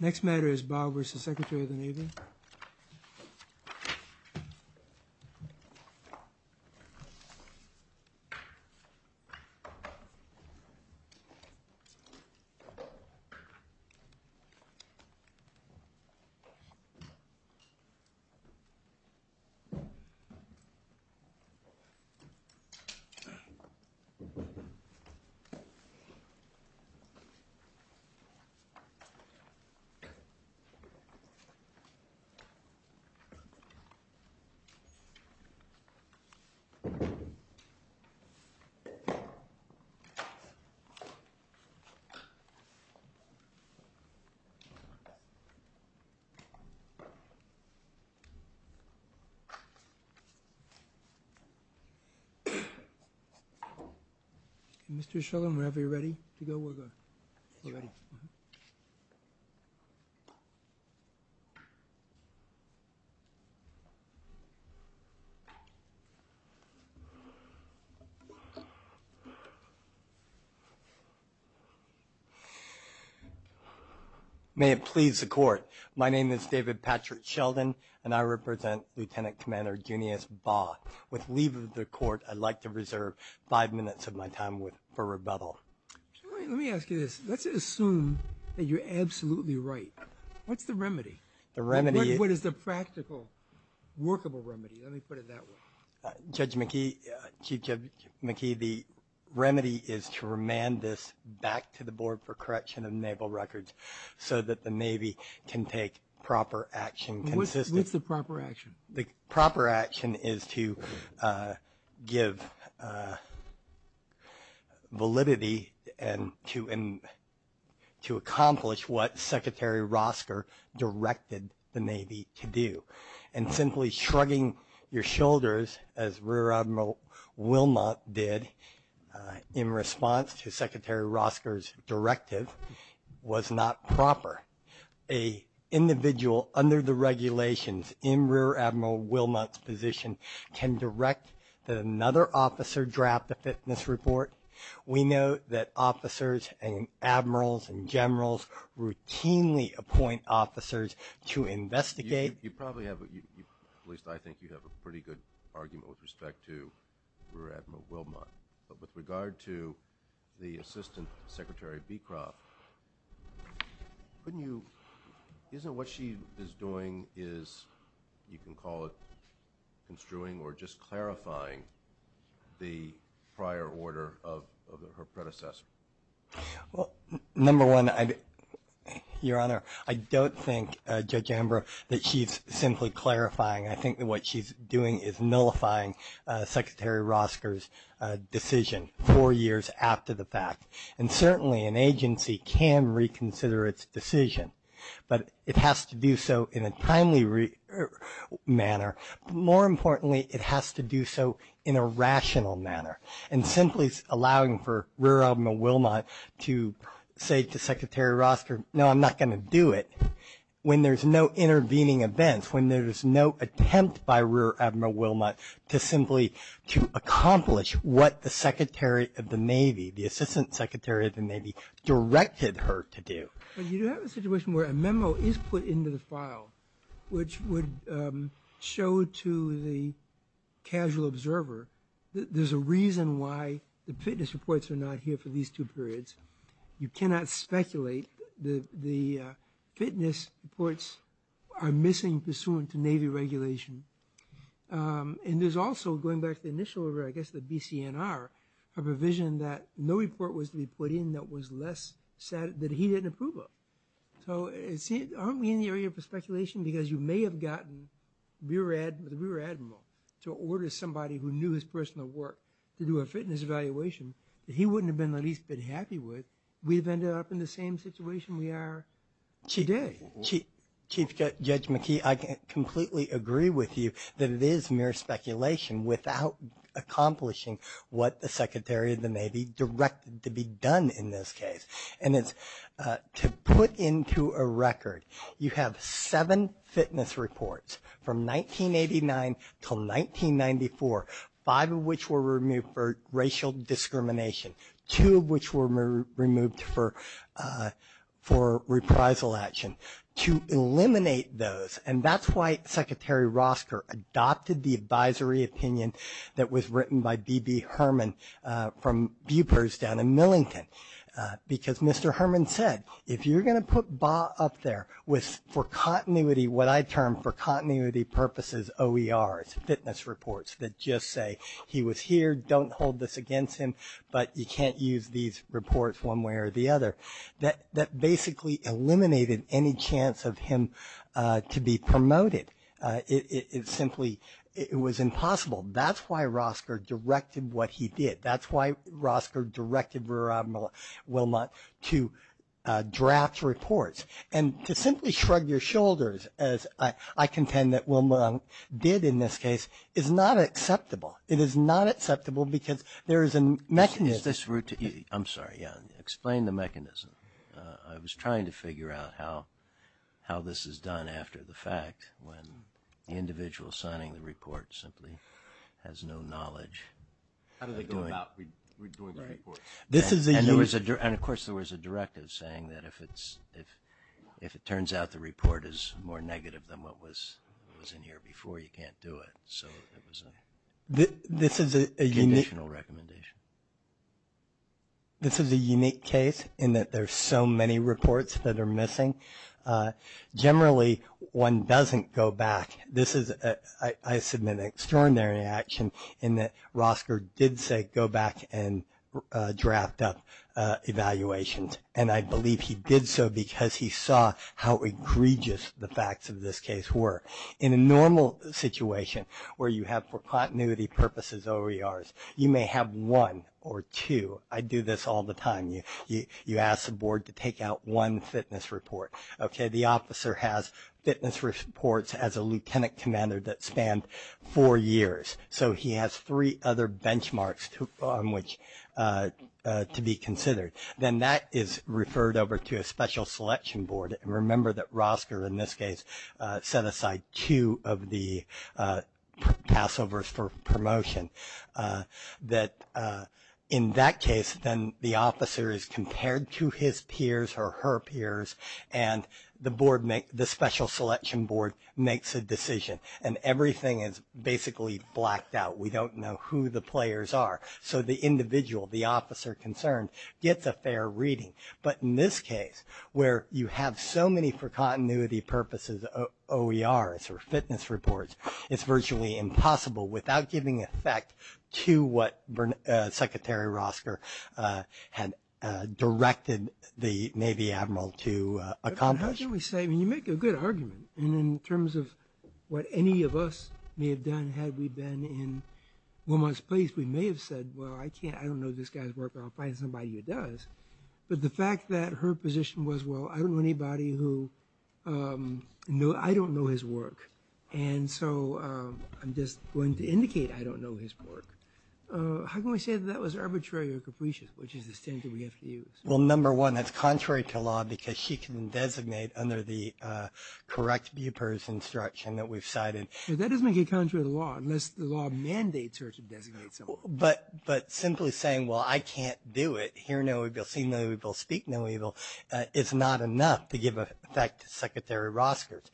Next matter is Baugh v. Secretaryofthe Navy. Mr. Shulman, are you ready to go? We're good. May it please the court. My name is David Patrick Sheldon, and I represent Lieutenant Commander Junius Baugh. With leave of the court, I'd like to reserve five minutes of my time for rebuttal. Let me ask you this. Let's assume that you're absolutely right. What's the remedy? The remedy is... What is the practical, workable remedy? Let me put it that way. Judge McKee, Chief Judge McKee, the remedy is to remand this back to the board for correction of naval records so that the Navy can take proper action consistently. What's the proper action? The proper action is to give validity and to accomplish what Secretary Rosker directed the Navy to do. And simply shrugging your shoulders, as Rear Admiral Wilmot did in response to Secretary Rosker's directive, was not proper. A individual under the regulations in Rear Admiral Wilmot's position can direct that another officer draft a fitness report. We know that officers and admirals and generals routinely appoint officers to investigate. You probably have, at least I think you have, a pretty good argument with respect to Rear Admiral Wilmot. But with regard to the Assistant Secretary Beecroft, couldn't you... Isn't what she is doing is, you can call it construing or just clarifying the prior order of her predecessor? Well, number one, Your Honor, I don't think, Judge Amber, that she's simply clarifying. I think that what she's doing is nullifying Secretary Rosker's decision four years after the fact. And certainly an agency can reconsider its decision, but it has to do so in a timely manner. More importantly, it has to do so in a rational manner. And simply allowing for Rear Admiral Wilmot to say to Secretary Rosker, no, I'm not going to do it, when there's no intervening events, when there's no attempt by Rear Admiral Wilmot to simply accomplish what the Secretary of the Navy, the Assistant Secretary of the Navy, directed her to do. But you do have a situation where a memo is put into the file which would show to the casual observer that there's a reason why the fitness reports are not here for these two periods. You cannot speculate. The fitness reports are missing pursuant to Navy regulation. And there's also, going back to the initial order, I guess the BCNR, a provision that no report was to be put in that he didn't approve of. So aren't we in the area of speculation? Because you may have gotten the Rear Admiral to order somebody who knew his personal work to do a fitness evaluation that he wouldn't have been the least bit happy with. We've ended up in the same situation we are today. Chief Judge McKee, I completely agree with you that it is mere speculation without accomplishing what the Secretary of the Navy directed to be done in this case. And it's to put into a record, you have seven fitness reports from 1989 till 1994, five of which were removed for racial discrimination, two of which were removed for reprisal action. To eliminate those, and that's why Secretary Rosker adopted the advisory opinion that was written by B.B. Herman from Bupers down in Millington. Because Mr. Herman said, if you're going to put BAW up there for continuity, OERs, fitness reports that just say he was here, don't hold this against him, but you can't use these reports one way or the other. That basically eliminated any chance of him to be promoted. It simply was impossible. That's why Rosker directed what he did. That's why Rosker directed Rear Admiral Wilmot to draft reports. And to simply shrug your shoulders, as I contend that Wilmot did in this case, is not acceptable. It is not acceptable because there is a mechanism. Is this routine? I'm sorry, yeah. Explain the mechanism. I was trying to figure out how this is done after the fact, when the individual signing the report simply has no knowledge. How do they go about redoing the report? And, of course, there was a directive saying that if it turns out the report is more negative than what was in here before, you can't do it. So it was a conditional recommendation. This is a unique case in that there's so many reports that are missing. Generally, one doesn't go back. I submit an extraordinary action in that Rosker did say go back and draft up evaluations, and I believe he did so because he saw how egregious the facts of this case were. In a normal situation where you have for continuity purposes OERs, you may have one or two. I do this all the time. You ask the board to take out one fitness report. Okay, the officer has fitness reports as a lieutenant commander that span four years. So he has three other benchmarks on which to be considered. Then that is referred over to a special selection board. And remember that Rosker in this case set aside two of the passovers for promotion. In that case, then the officer is compared to his peers or her peers, and the special selection board makes a decision. And everything is basically blacked out. We don't know who the players are. So the individual, the officer concerned, gets a fair reading. But in this case, where you have so many for continuity purposes OERs or fitness reports, it's virtually impossible without giving effect to what Secretary Rosker had directed the Navy Admiral to accomplish. How can we say? I mean, you make a good argument. And in terms of what any of us may have done had we been in Wilmot's place, we may have said, well, I can't, I don't know this guy's work, but I'll find somebody who does. But the fact that her position was, well, I don't know anybody who, I don't know his work. And so I'm just going to indicate I don't know his work. How can we say that that was arbitrary or capricious, which is the standard we have to use? Well, number one, that's contrary to law because she can designate under the correct BUPERS instruction that we've cited. That doesn't make it contrary to law unless the law mandates her to designate someone. But simply saying, well, I can't do it, hear no evil, see no evil, speak no evil, is not enough to give effect to Secretary Rosker's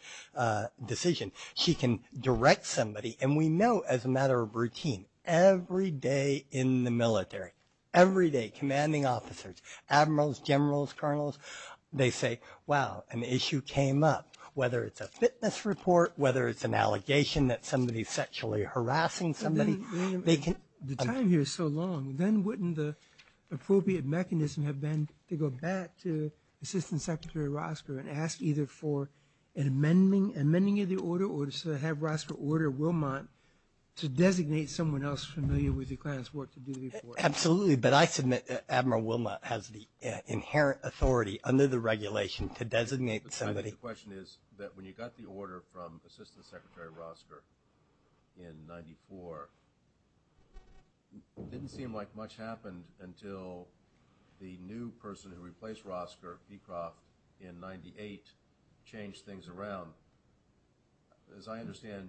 decision. She can direct somebody, and we know as a matter of routine, every day in the military, every day commanding officers, admirals, generals, colonels, they say, wow, an issue came up, whether it's a fitness report, whether it's an allegation that somebody is sexually harassing somebody. The time here is so long. Then wouldn't the appropriate mechanism have been to go back to Assistant Secretary Rosker and ask either for an amending of the order or to have Rosker order Wilmot to designate someone else familiar with the Klan's work to do the report? Absolutely. But I submit Admiral Wilmot has the inherent authority under the regulation to designate somebody. My initial question is that when you got the order from Assistant Secretary Rosker in 1994, it didn't seem like much happened until the new person who replaced Rosker, Beecroft, in 1998, changed things around. As I understand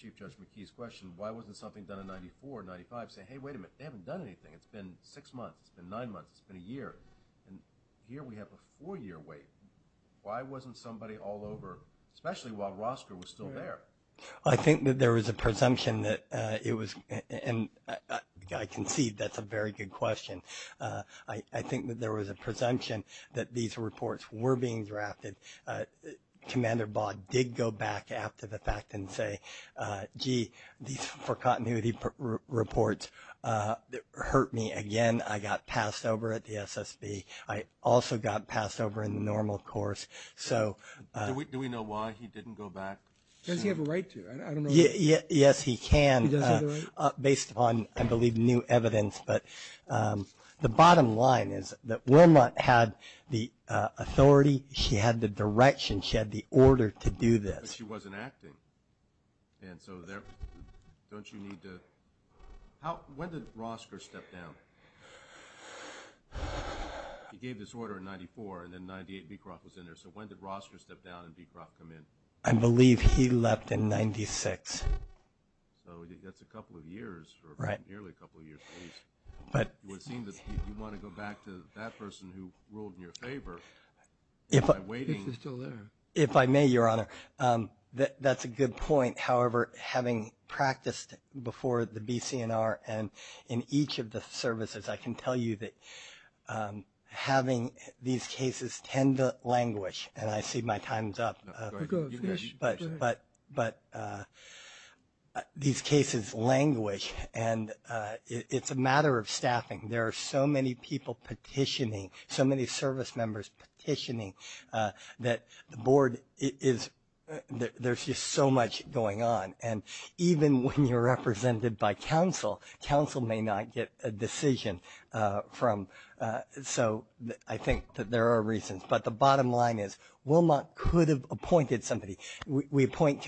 Chief Judge McKee's question, why wasn't something done in 94, 95, saying, hey, wait a minute, they haven't done anything. It's been six months. It's been nine months. It's been a year. Here we have a four-year wait. Why wasn't somebody all over, especially while Rosker was still there? I think that there was a presumption that it was, and I concede that's a very good question. I think that there was a presumption that these reports were being drafted. Commander Baugh did go back after the fact and say, gee, these for continuity reports hurt me again. I got passed over at the SSB. I also got passed over in the normal course. Do we know why he didn't go back? Does he have a right to? I don't know. Yes, he can, based upon, I believe, new evidence. But the bottom line is that Wilmot had the authority. She had the direction. She had the order to do this. But she wasn't acting. And so don't you need to? When did Rosker step down? He gave this order in 94, and then in 98, Beecroft was in there. So when did Rosker step down and Beecroft come in? I believe he left in 96. So that's a couple of years, or nearly a couple of years, at least. It would seem that you want to go back to that person who ruled in your favor by waiting. If I may, Your Honor. That's a good point. However, having practiced before the BCNR and in each of the services, I can tell you that having these cases tend to languish. And I see my time is up. Go ahead. But these cases languish, and it's a matter of staffing. There are so many people petitioning, so many service members petitioning, that the Board is just so much going on. And even when you're represented by counsel, counsel may not get a decision from. So I think that there are reasons. But the bottom line is, Wilmot could have appointed somebody. We appoint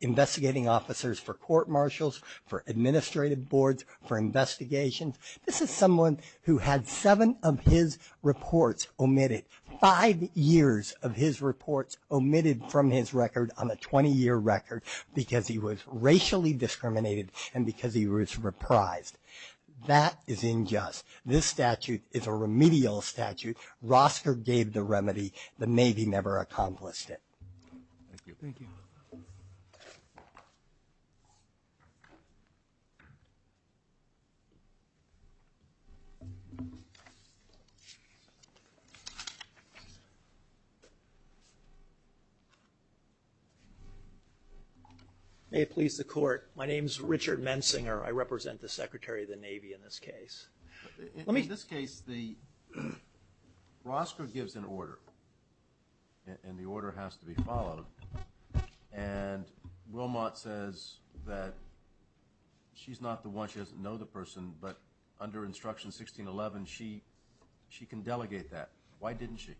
investigating officers for court-martials, for administrative boards, for investigations. This is someone who had seven of his reports omitted. Five years of his reports omitted from his record on a 20-year record because he was racially discriminated and because he was reprised. That is unjust. This statute is a remedial statute. Rosker gave the remedy. The Navy never accomplished it. Thank you. Thank you. Thank you. May it please the Court, my name is Richard Mensinger. I represent the Secretary of the Navy in this case. In this case, Rosker gives an order, and the order has to be followed. And Wilmot says that she's not the one, she doesn't know the person, but under Instruction 1611, she can delegate that. Why didn't she?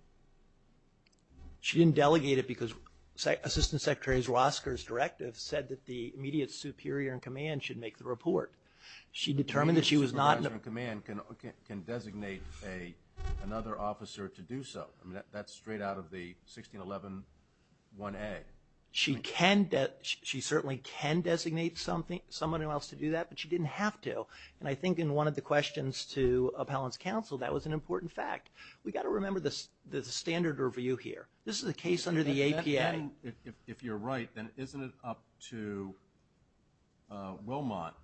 She didn't delegate it because Assistant Secretary Rosker's directive said that the immediate superior-in-command should make the report. She determined that she was not. The immediate superior-in-command can designate another officer to do so. That's straight out of the 1611-1A. She certainly can designate someone else to do that, but she didn't have to. And I think in one of the questions to Appellant's counsel, that was an important fact. We've got to remember the standard review here. This is a case under the APA. If you're right, then isn't it up to Wilmot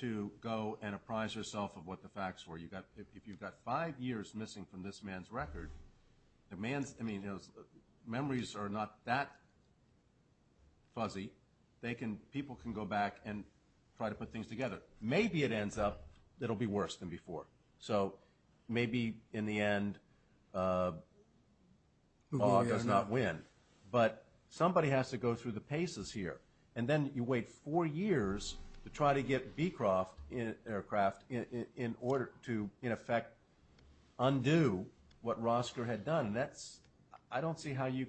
to go and apprise herself of what the facts were? If you've got five years missing from this man's record, the man's memories are not that fuzzy. People can go back and try to put things together. Maybe it ends up it'll be worse than before. So maybe in the end, awe does not win. But somebody has to go through the paces here, and then you wait four years to try to get Beecroft Aircraft in order to, in effect, undo what Rosker had done. I don't see how you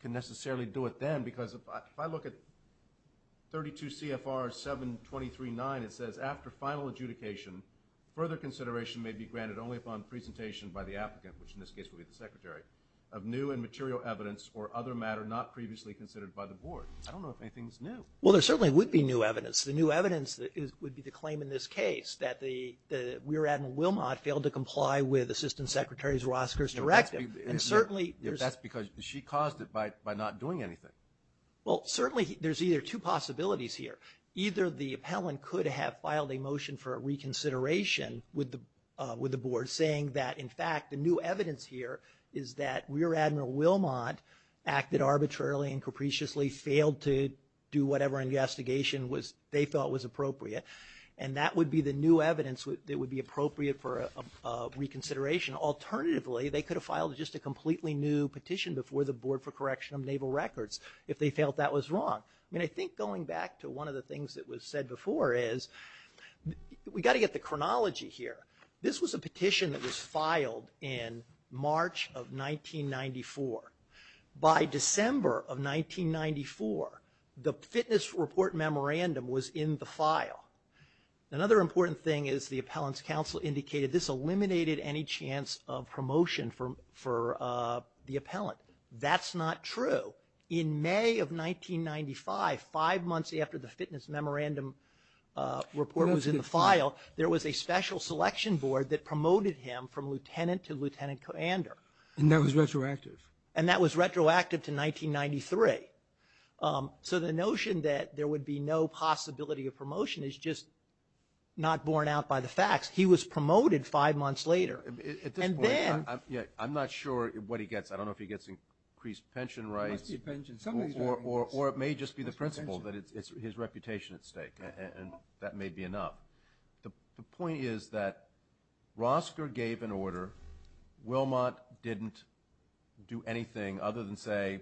can necessarily do it then, because if I look at 32 CFR 723.9, it says, after final adjudication, further consideration may be granted only upon presentation by the applicant, which in this case would be the Secretary, of new and material evidence or other matter not previously considered by the Board. I don't know if anything's new. Well, there certainly would be new evidence. The new evidence would be the claim in this case that the Weir Admiral Wilmot failed to comply with Assistant Secretary Rosker's directive. That's because she caused it by not doing anything. Well, certainly there's either two possibilities here. Either the appellant could have filed a motion for reconsideration with the Board, saying that, in fact, the new evidence here is that Weir Admiral Wilmot acted arbitrarily and capriciously, failed to do whatever investigation they felt was appropriate, and that would be the new evidence that would be appropriate for a reconsideration. Alternatively, they could have filed just a completely new petition before the Board for correction of naval records if they felt that was wrong. I mean, I think going back to one of the things that was said before is, we've got to get the chronology here. This was a petition that was filed in March of 1994. By December of 1994, the fitness report memorandum was in the file. Another important thing is the appellant's counsel indicated this eliminated any chance of promotion for the appellant. That's not true. In May of 1995, five months after the fitness memorandum report was in the file, there was a special selection board that promoted him from lieutenant to lieutenant commander. And that was retroactive? And that was retroactive to 1993. So the notion that there would be no possibility of promotion is just not borne out by the facts. He was promoted five months later. At this point, I'm not sure what he gets. I don't know if he gets increased pension rights, or it may just be the principle that it's his reputation at stake, and that may be enough. The point is that Rosker gave an order. Wilmot didn't do anything other than say,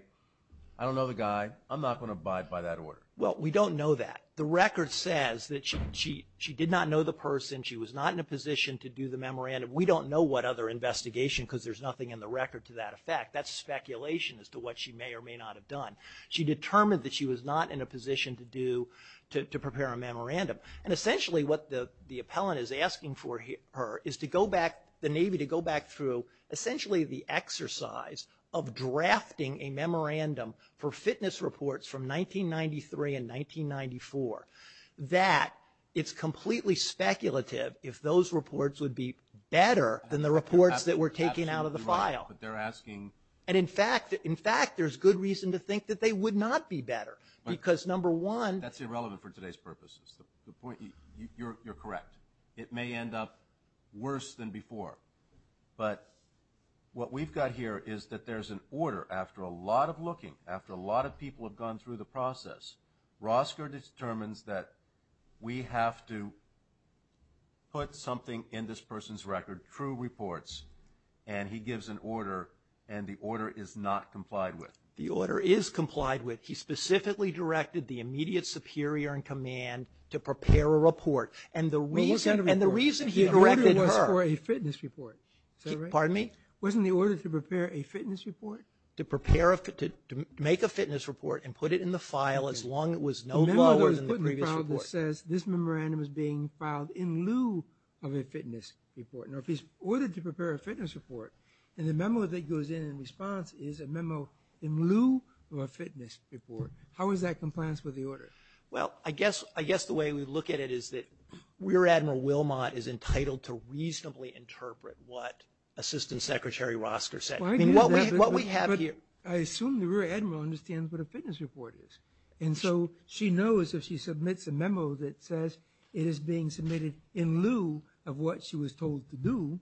I don't know the guy. I'm not going to abide by that order. Well, we don't know that. The record says that she did not know the person. She was not in a position to do the memorandum. We don't know what other investigation, because there's nothing in the record to that effect. That's speculation as to what she may or may not have done. She determined that she was not in a position to prepare a memorandum. And essentially what the appellant is asking for her is to go back, the Navy to go back through, essentially the exercise of drafting a memorandum for fitness reports from 1993 and 1994, that it's completely speculative if those reports would be better than the reports that were taken out of the file. But they're asking. And, in fact, there's good reason to think that they would not be better, because number one. That's irrelevant for today's purposes. You're correct. It may end up worse than before. But what we've got here is that there's an order after a lot of looking, after a lot of people have gone through the process, Rosker determines that we have to put something in this person's record, true reports, and he gives an order, and the order is not complied with. The order is complied with. He specifically directed the immediate superior in command to prepare a report. And the reason he directed her. The order was for a fitness report. Pardon me? Wasn't the order to prepare a fitness report? To make a fitness report and put it in the file as long as it was no lower than the previous report. The memo that was put in the file that says this memorandum is being filed in lieu of a fitness report. In order to prepare a fitness report, and the memo that goes in in response is a memo in lieu of a fitness report. How is that compliance with the order? Well, I guess the way we look at it is that Rear Admiral Wilmot is entitled to reasonably interpret what Assistant Secretary Rosker said. What we have here. I assume the Rear Admiral understands what a fitness report is. And so she knows if she submits a memo that says it is being submitted in lieu of what she was told to do,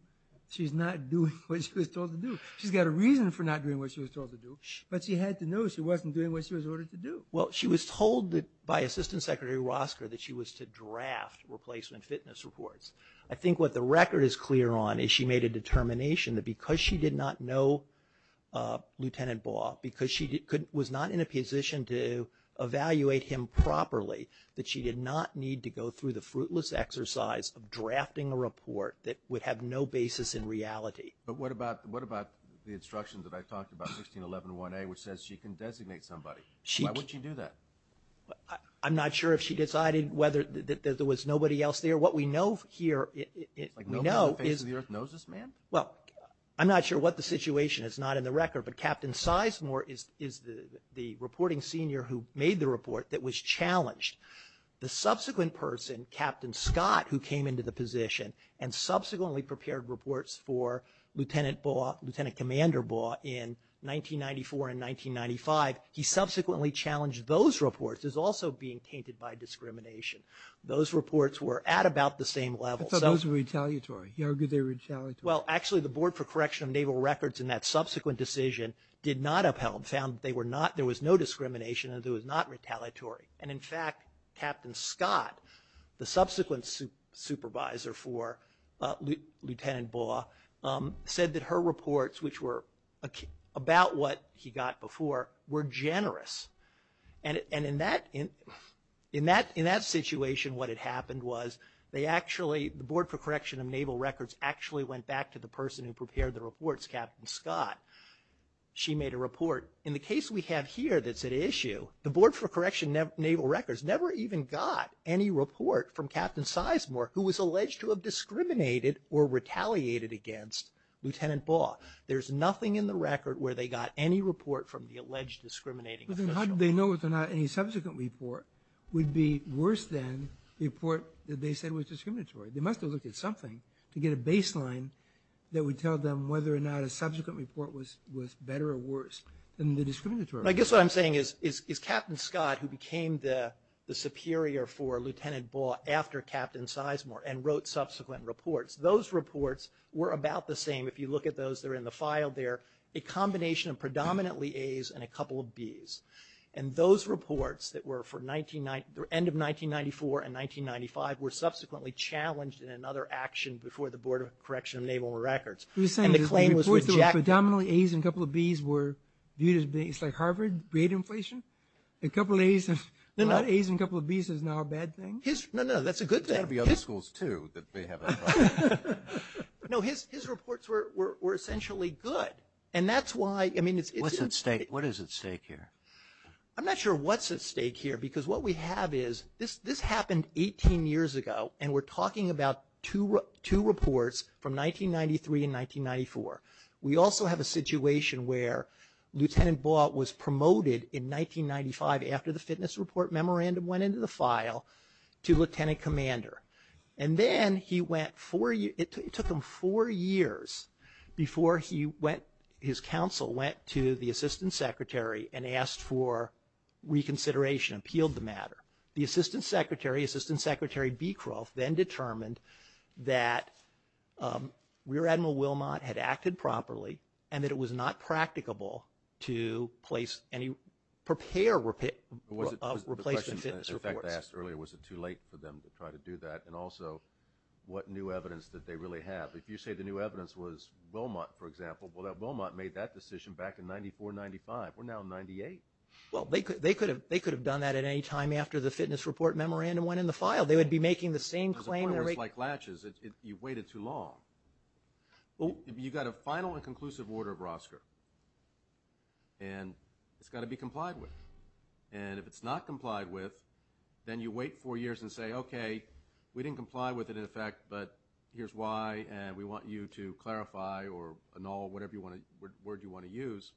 she's not doing what she was told to do. She's got a reason for not doing what she was told to do, but she had to know she wasn't doing what she was ordered to do. Well, she was told by Assistant Secretary Rosker that she was to draft replacement fitness reports. I think what the record is clear on is she made a determination that because she did not know Lieutenant Baugh, because she was not in a position to evaluate him properly, that she did not need to go through the fruitless exercise of drafting a report that would have no basis in reality. But what about the instructions that I talked about, 1611-1A, which says she can designate somebody? Why would she do that? I'm not sure if she decided whether there was nobody else there. What we know here is. Like nobody on the face of the earth knows this man? Well, I'm not sure what the situation is. It's not in the record. But Captain Sizemore is the reporting senior who made the report that was challenged. The subsequent person, Captain Scott, who came into the position and subsequently prepared reports for Lieutenant Baugh, Lieutenant Commander Baugh in 1994 and 1995, he subsequently challenged those reports as also being tainted by discrimination. Those reports were at about the same level. I thought those were retaliatory. He argued they were retaliatory. Well, actually the Board for Correction of Naval Records in that subsequent decision did not upheld, found that there was no discrimination and it was not retaliatory. And, in fact, Captain Scott, the subsequent supervisor for Lieutenant Baugh, said that her reports, which were about what he got before, were generous. And in that situation what had happened was they actually, the Board for Correction of Naval Records actually went back to the person who prepared the reports, Captain Scott. She made a report. In the case we have here that's at issue, the Board for Correction of Naval Records never even got any report from Captain Sizemore who was alleged to have discriminated or retaliated against Lieutenant Baugh. There's nothing in the record where they got any report from the alleged discriminating official. But then how did they know whether or not any subsequent report would be worse than the report that they said was discriminatory? They must have looked at something to get a baseline that would tell them whether or not a subsequent report was better or worse. I guess what I'm saying is Captain Scott, who became the superior for Lieutenant Baugh after Captain Sizemore and wrote subsequent reports, those reports were about the same. If you look at those that are in the file there, a combination of predominantly A's and a couple of B's. And those reports that were for the end of 1994 and 1995 were subsequently challenged in another action before the Board of Correction of Naval Records. And the claim was rejected. You're saying the reports were predominantly A's and a couple of B's were viewed as, it's like Harvard rate inflation? A couple of A's and a couple of B's is now a bad thing? No, no, that's a good thing. There's got to be other schools, too, that may have that problem. No, his reports were essentially good. And that's why, I mean, it's… What's at stake? What is at stake here? I'm not sure what's at stake here because what we have is this happened 18 years ago and we're talking about two reports from 1993 and 1994. We also have a situation where Lieutenant Ball was promoted in 1995 after the fitness report memorandum went into the file to Lieutenant Commander. And then he went four years, it took him four years before he went, his counsel went to the Assistant Secretary and asked for reconsideration, appealed the matter. The Assistant Secretary, Assistant Secretary Beecroft, then determined that Rear Admiral Wilmot had acted properly and that it was not practicable to place any, prepare replacement fitness reports. The question I asked earlier, was it too late for them to try to do that? And also, what new evidence did they really have? If you say the new evidence was Wilmot, for example, well, Wilmot made that decision back in 94, 95. We're now in 98. Well, they could have done that at any time after the fitness report memorandum went in the file. They would be making the same claim. It's like latches. You've waited too long. You've got a final and conclusive order of Rosker and it's got to be complied with. And if it's not complied with, then you wait four years and say, okay, we didn't comply with it in effect, but here's why and we want you to clarify or annul whatever word you want to use.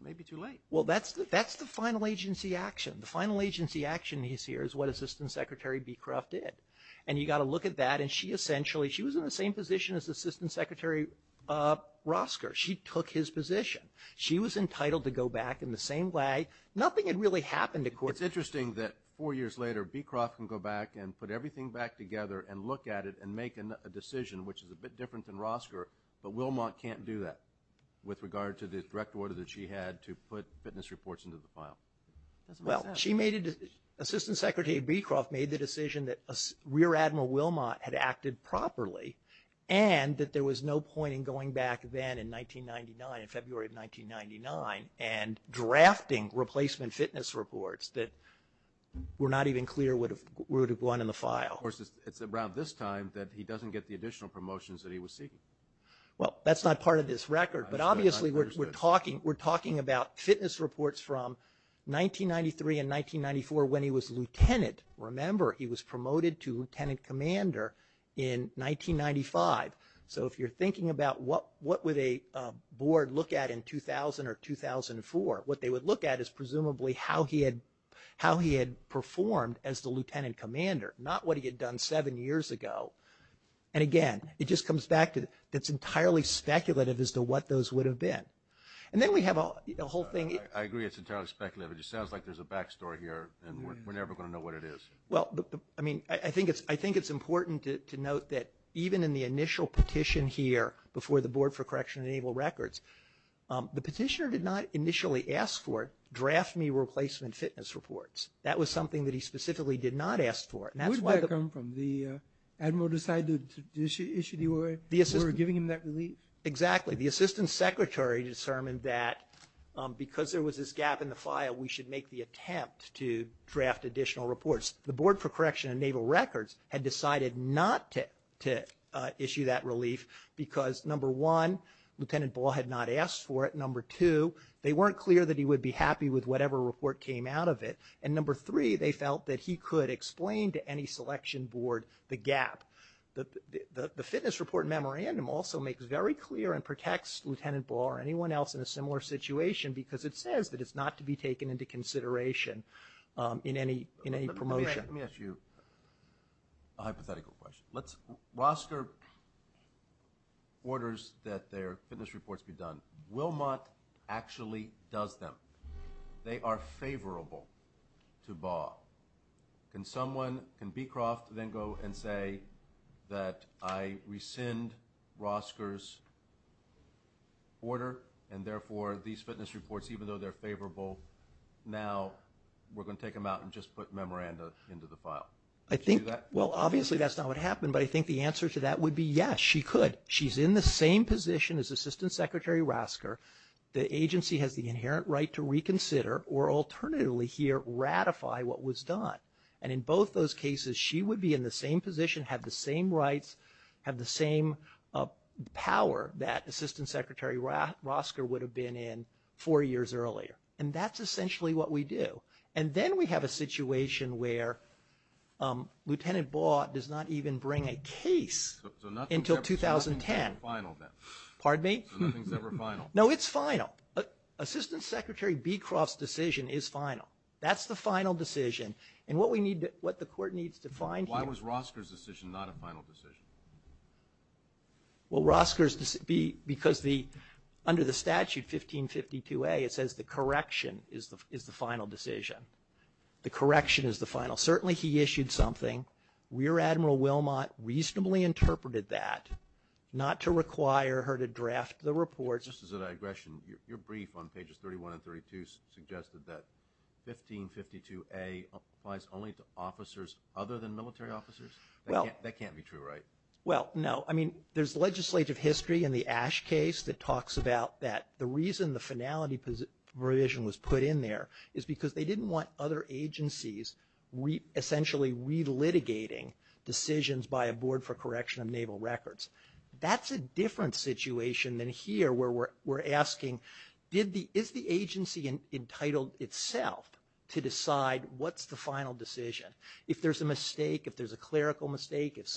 It may be too late. Well, that's the final agency action. The final agency action is here is what Assistant Secretary Becroft did. And you've got to look at that and she essentially, she was in the same position as Assistant Secretary Rosker. She took his position. She was entitled to go back in the same way. Nothing had really happened to court. It's interesting that four years later, Becroft can go back and put everything back together and look at it and make a decision, which is a bit different than Rosker, but Wilmot can't do that with regard to the direct order that she had to put fitness reports into the file. Well, she made a decision. Assistant Secretary Becroft made the decision that Rear Admiral Wilmot had acted properly and that there was no point in going back then in 1999, in February of 1999, and drafting replacement fitness reports that were not even clear would have gone in the file. Of course, it's around this time that he doesn't get the additional promotions that he was seeking. Well, that's not part of this record. But obviously we're talking about fitness reports from 1993 and 1994 when he was lieutenant. Remember, he was promoted to lieutenant commander in 1995. So if you're thinking about what would a board look at in 2000 or 2004, what they would look at is presumably how he had performed as the lieutenant commander, not what he had done seven years ago. And again, it just comes back to it's entirely speculative as to what those would have been. And then we have a whole thing. I agree it's entirely speculative. It just sounds like there's a back story here and we're never going to know what it is. Well, I mean, I think it's important to note that even in the initial petition here before the Board for Correction Enabled Records, the petitioner did not initially ask for draft me replacement fitness reports. That was something that he specifically did not ask for. Where did that come from? The admiral decided to issue the order? They were giving him that relief? Exactly. The assistant secretary determined that because there was this gap in the file, we should make the attempt to draft additional reports. The Board for Correction Enabled Records had decided not to issue that relief because, number one, Lieutenant Ball had not asked for it. Number two, they weren't clear that he would be happy with whatever report came out of it. And number three, they felt that he could explain to any selection board the gap. The fitness report memorandum also makes very clear and protects Lieutenant Ball or anyone else in a similar situation because it says that it's not to be taken into consideration in any promotion. Let me ask you a hypothetical question. Let's roster orders that their fitness reports be done. Wilmot actually does them. They are favorable to Ball. Can someone, can Beecroft then go and say that I rescind Rosker's order and therefore these fitness reports, even though they're favorable, now we're going to take them out and just put memoranda into the file? I think, well, obviously that's not what happened, but I think the answer to that would be yes, she could. She's in the same position as Assistant Secretary Rosker. The agency has the inherent right to reconsider or alternatively here ratify what was done. And in both those cases, she would be in the same position, have the same rights, have the same power that Assistant Secretary Rosker would have been in four years earlier. And that's essentially what we do. And then we have a situation where Lieutenant Ball does not even bring a case until 2010. So nothing's ever final then? Pardon me? So nothing's ever final? No, it's final. Assistant Secretary Beecroft's decision is final. That's the final decision. And what we need to, what the court needs to find here. Why was Rosker's decision not a final decision? Well, Rosker's, because the, under the statute, 1552A, it says the correction is the final decision. The correction is the final. Certainly he issued something. Rear Admiral Wilmot reasonably interpreted that, not to require her to draft the report. This is a digression. Your brief on pages 31 and 32 suggested that 1552A applies only to officers other than military officers? That can't be true, right? Well, no. I mean, there's legislative history in the Ash case that talks about that. The reason the finality provision was put in there is because they didn't want other agencies essentially relitigating decisions by a board for correction of naval records. That's a different situation than here where we're asking, is the agency entitled itself to decide what's the final decision? If there's a mistake, if there's a clerical mistake, if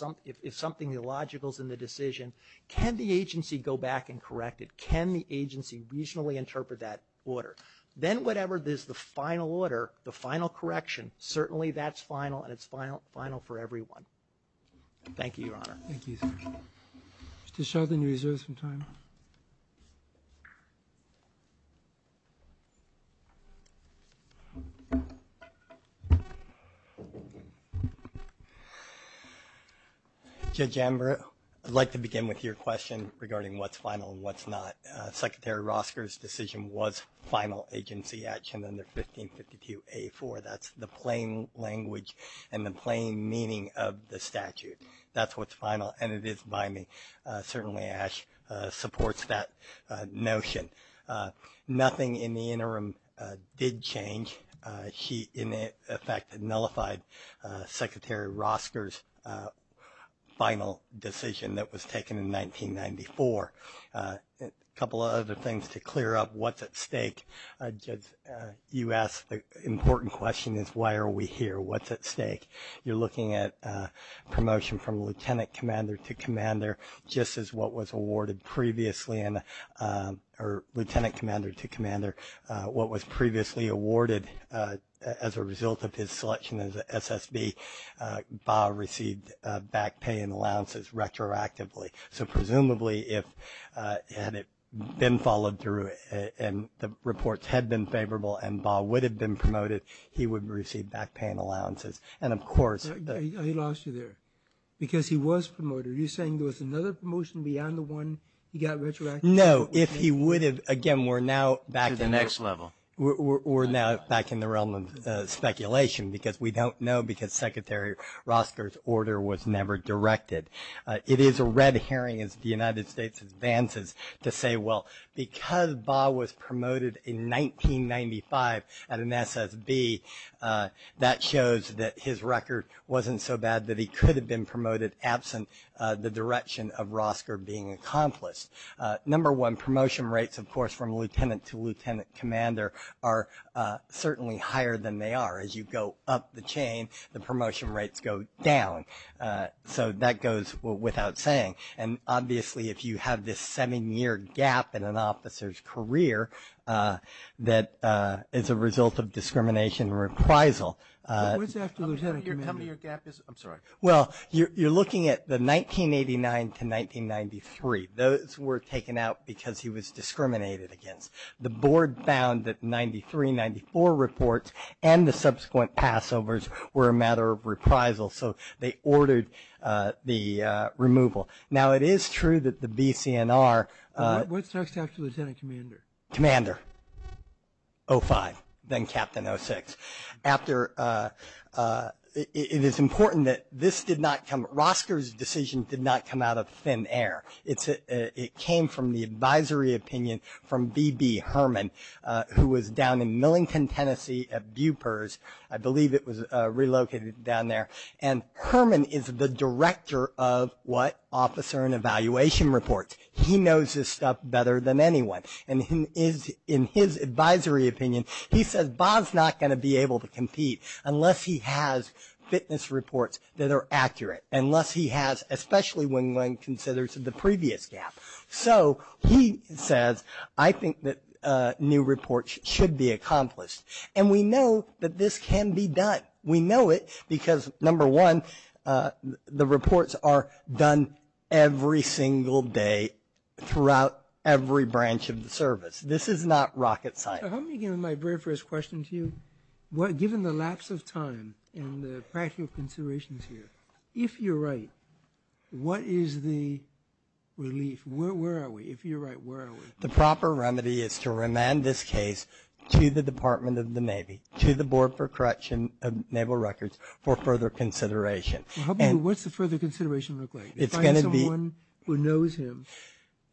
something illogical's in the decision, can the agency go back and correct it? Can the agency reasonably interpret that order? Then whatever is the final order, the final correction, certainly that's final and it's final for everyone. Thank you, Your Honor. Thank you, sir. Mr. Sheldon, you reserve some time. Judge Amber, I'd like to begin with your question regarding what's final and what's not. Secretary Rosker's decision was final agency action under 1552A4. That's the plain language and the plain meaning of the statute. That's what's final and it is by me. Certainly Ash supports that notion. Nothing in the interim did change. She, in effect, nullified Secretary Rosker's final decision that was taken in 1994. A couple of other things to clear up, what's at stake? You asked an important question, is why are we here? What's at stake? You're looking at promotion from lieutenant commander to commander, just as what was awarded previously, or lieutenant commander to commander. What was previously awarded as a result of his selection as SSB, Bob received back pay and allowances retroactively. So presumably if it had been followed through and the reports had been favorable and Bob would have been promoted, he would have received back pay and allowances. And, of course, I lost you there because he was promoted. Are you saying there was another promotion beyond the one he got retroactively? No. If he would have, again, we're now back to the next level. We're now back in the realm of speculation because we don't know because Secretary Rosker's order was never directed. It is a red herring as the United States advances to say, well, because Bob was promoted in 1995 at an SSB, that shows that his record wasn't so bad that he could have been promoted absent the direction of Rosker being accomplished. Number one, promotion rates, of course, from lieutenant to lieutenant commander, are certainly higher than they are. As you go up the chain, the promotion rates go down. So that goes without saying. And, obviously, if you have this seven-year gap in an officer's career that is a result of discrimination and reprisal. Tell me your gap is? I'm sorry. Well, you're looking at the 1989 to 1993. Those were taken out because he was discriminated against. The board found that 93, 94 reports and the subsequent passovers were a matter of reprisal. So they ordered the removal. Now, it is true that the BCNR. What's next after lieutenant commander? Commander, 05, then Captain 06. After, it is important that this did not come, Rosker's decision did not come out of thin air. It came from the advisory opinion from B.B. Herman, who was down in Millington, Tennessee, at Bupers. I believe it was relocated down there. And Herman is the director of what? Officer and Evaluation Reports. He knows this stuff better than anyone. And in his advisory opinion, he says Bob's not going to be able to compete unless he has fitness reports that are accurate, unless he has, especially when one considers the previous gap. So he says, I think that new reports should be accomplished. And we know that this can be done. We know it because, number one, the reports are done every single day throughout every branch of the service. This is not rocket science. Let me begin with my very first question to you. Given the lapse of time and the practical considerations here, if you're right, what is the relief? Where are we? If you're right, where are we? The proper remedy is to remand this case to the Department of the Navy, to the Board for Correction of Naval Records for further consideration. What's the further consideration look like? They find someone who knows him,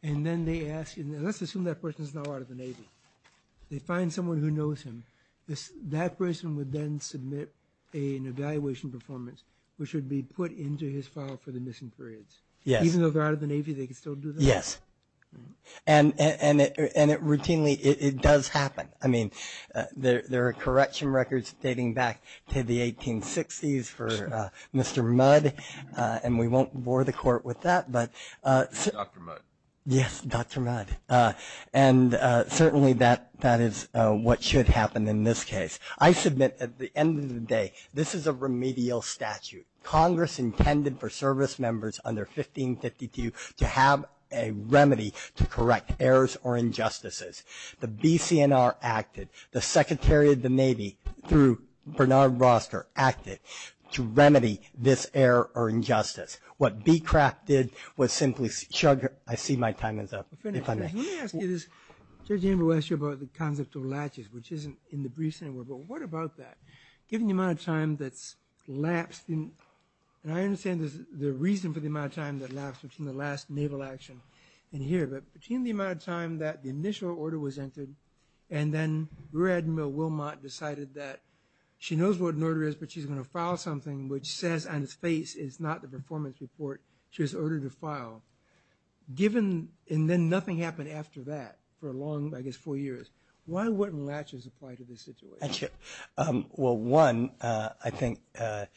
and then they ask him, let's assume that person is now out of the Navy. They find someone who knows him. That person would then submit an evaluation performance, which would be put into his file for the missing periods. Yes. Even though they're out of the Navy, they could still do that? Yes. And routinely, it does happen. I mean, there are correction records dating back to the 1860s for Mr. Mudd, and we won't bore the court with that. Dr. Mudd. Yes, Dr. Mudd, and certainly that is what should happen in this case. I submit at the end of the day, this is a remedial statute. Congress intended for service members under 1552 to have a remedy to correct errors or injustices. The BCNR acted, the Secretary of the Navy through Bernard Roster acted to remedy this error or injustice. What BCRAF did was simply, I see my time is up. Let me ask you this. Judge Amber asked you about the concept of latches, which isn't in the briefs anymore, but what about that? Given the amount of time that's lapsed, and I understand the reason for the amount of time that lapsed between the last Naval action and here, but between the amount of time that the initial order was entered, and then Rear Admiral Wilmot decided that she knows what an order is, but she's going to file something which says on his face is not the performance report. She has ordered a file. Given, and then nothing happened after that for a long, I guess, four years, why wouldn't latches apply to this situation? Well, one, I think that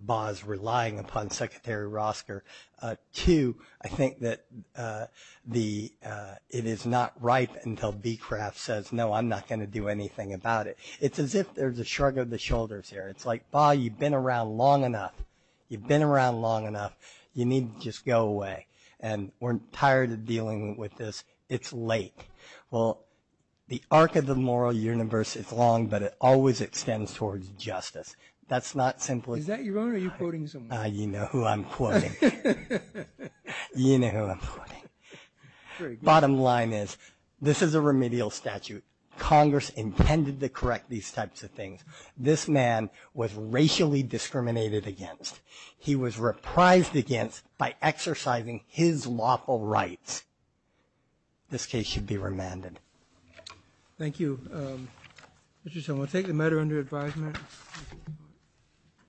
Bob's relying upon Secretary Roster. Two, I think that it is not right until BCRAF says, no, I'm not going to do anything about it. It's as if there's a shrug of the shoulders here. It's like, Bob, you've been around long enough. You've been around long enough. You need to just go away, and we're tired of dealing with this. It's late. Well, the arc of the moral universe is long, but it always extends towards justice. That's not simply. Is that your own or are you quoting someone? You know who I'm quoting. You know who I'm quoting. Bottom line is this is a remedial statute. Congress intended to correct these types of things. This man was racially discriminated against. He was reprised against by exercising his lawful rights. This case should be remanded. Thank you. Mr. Chairman, we'll take the matter under advisement.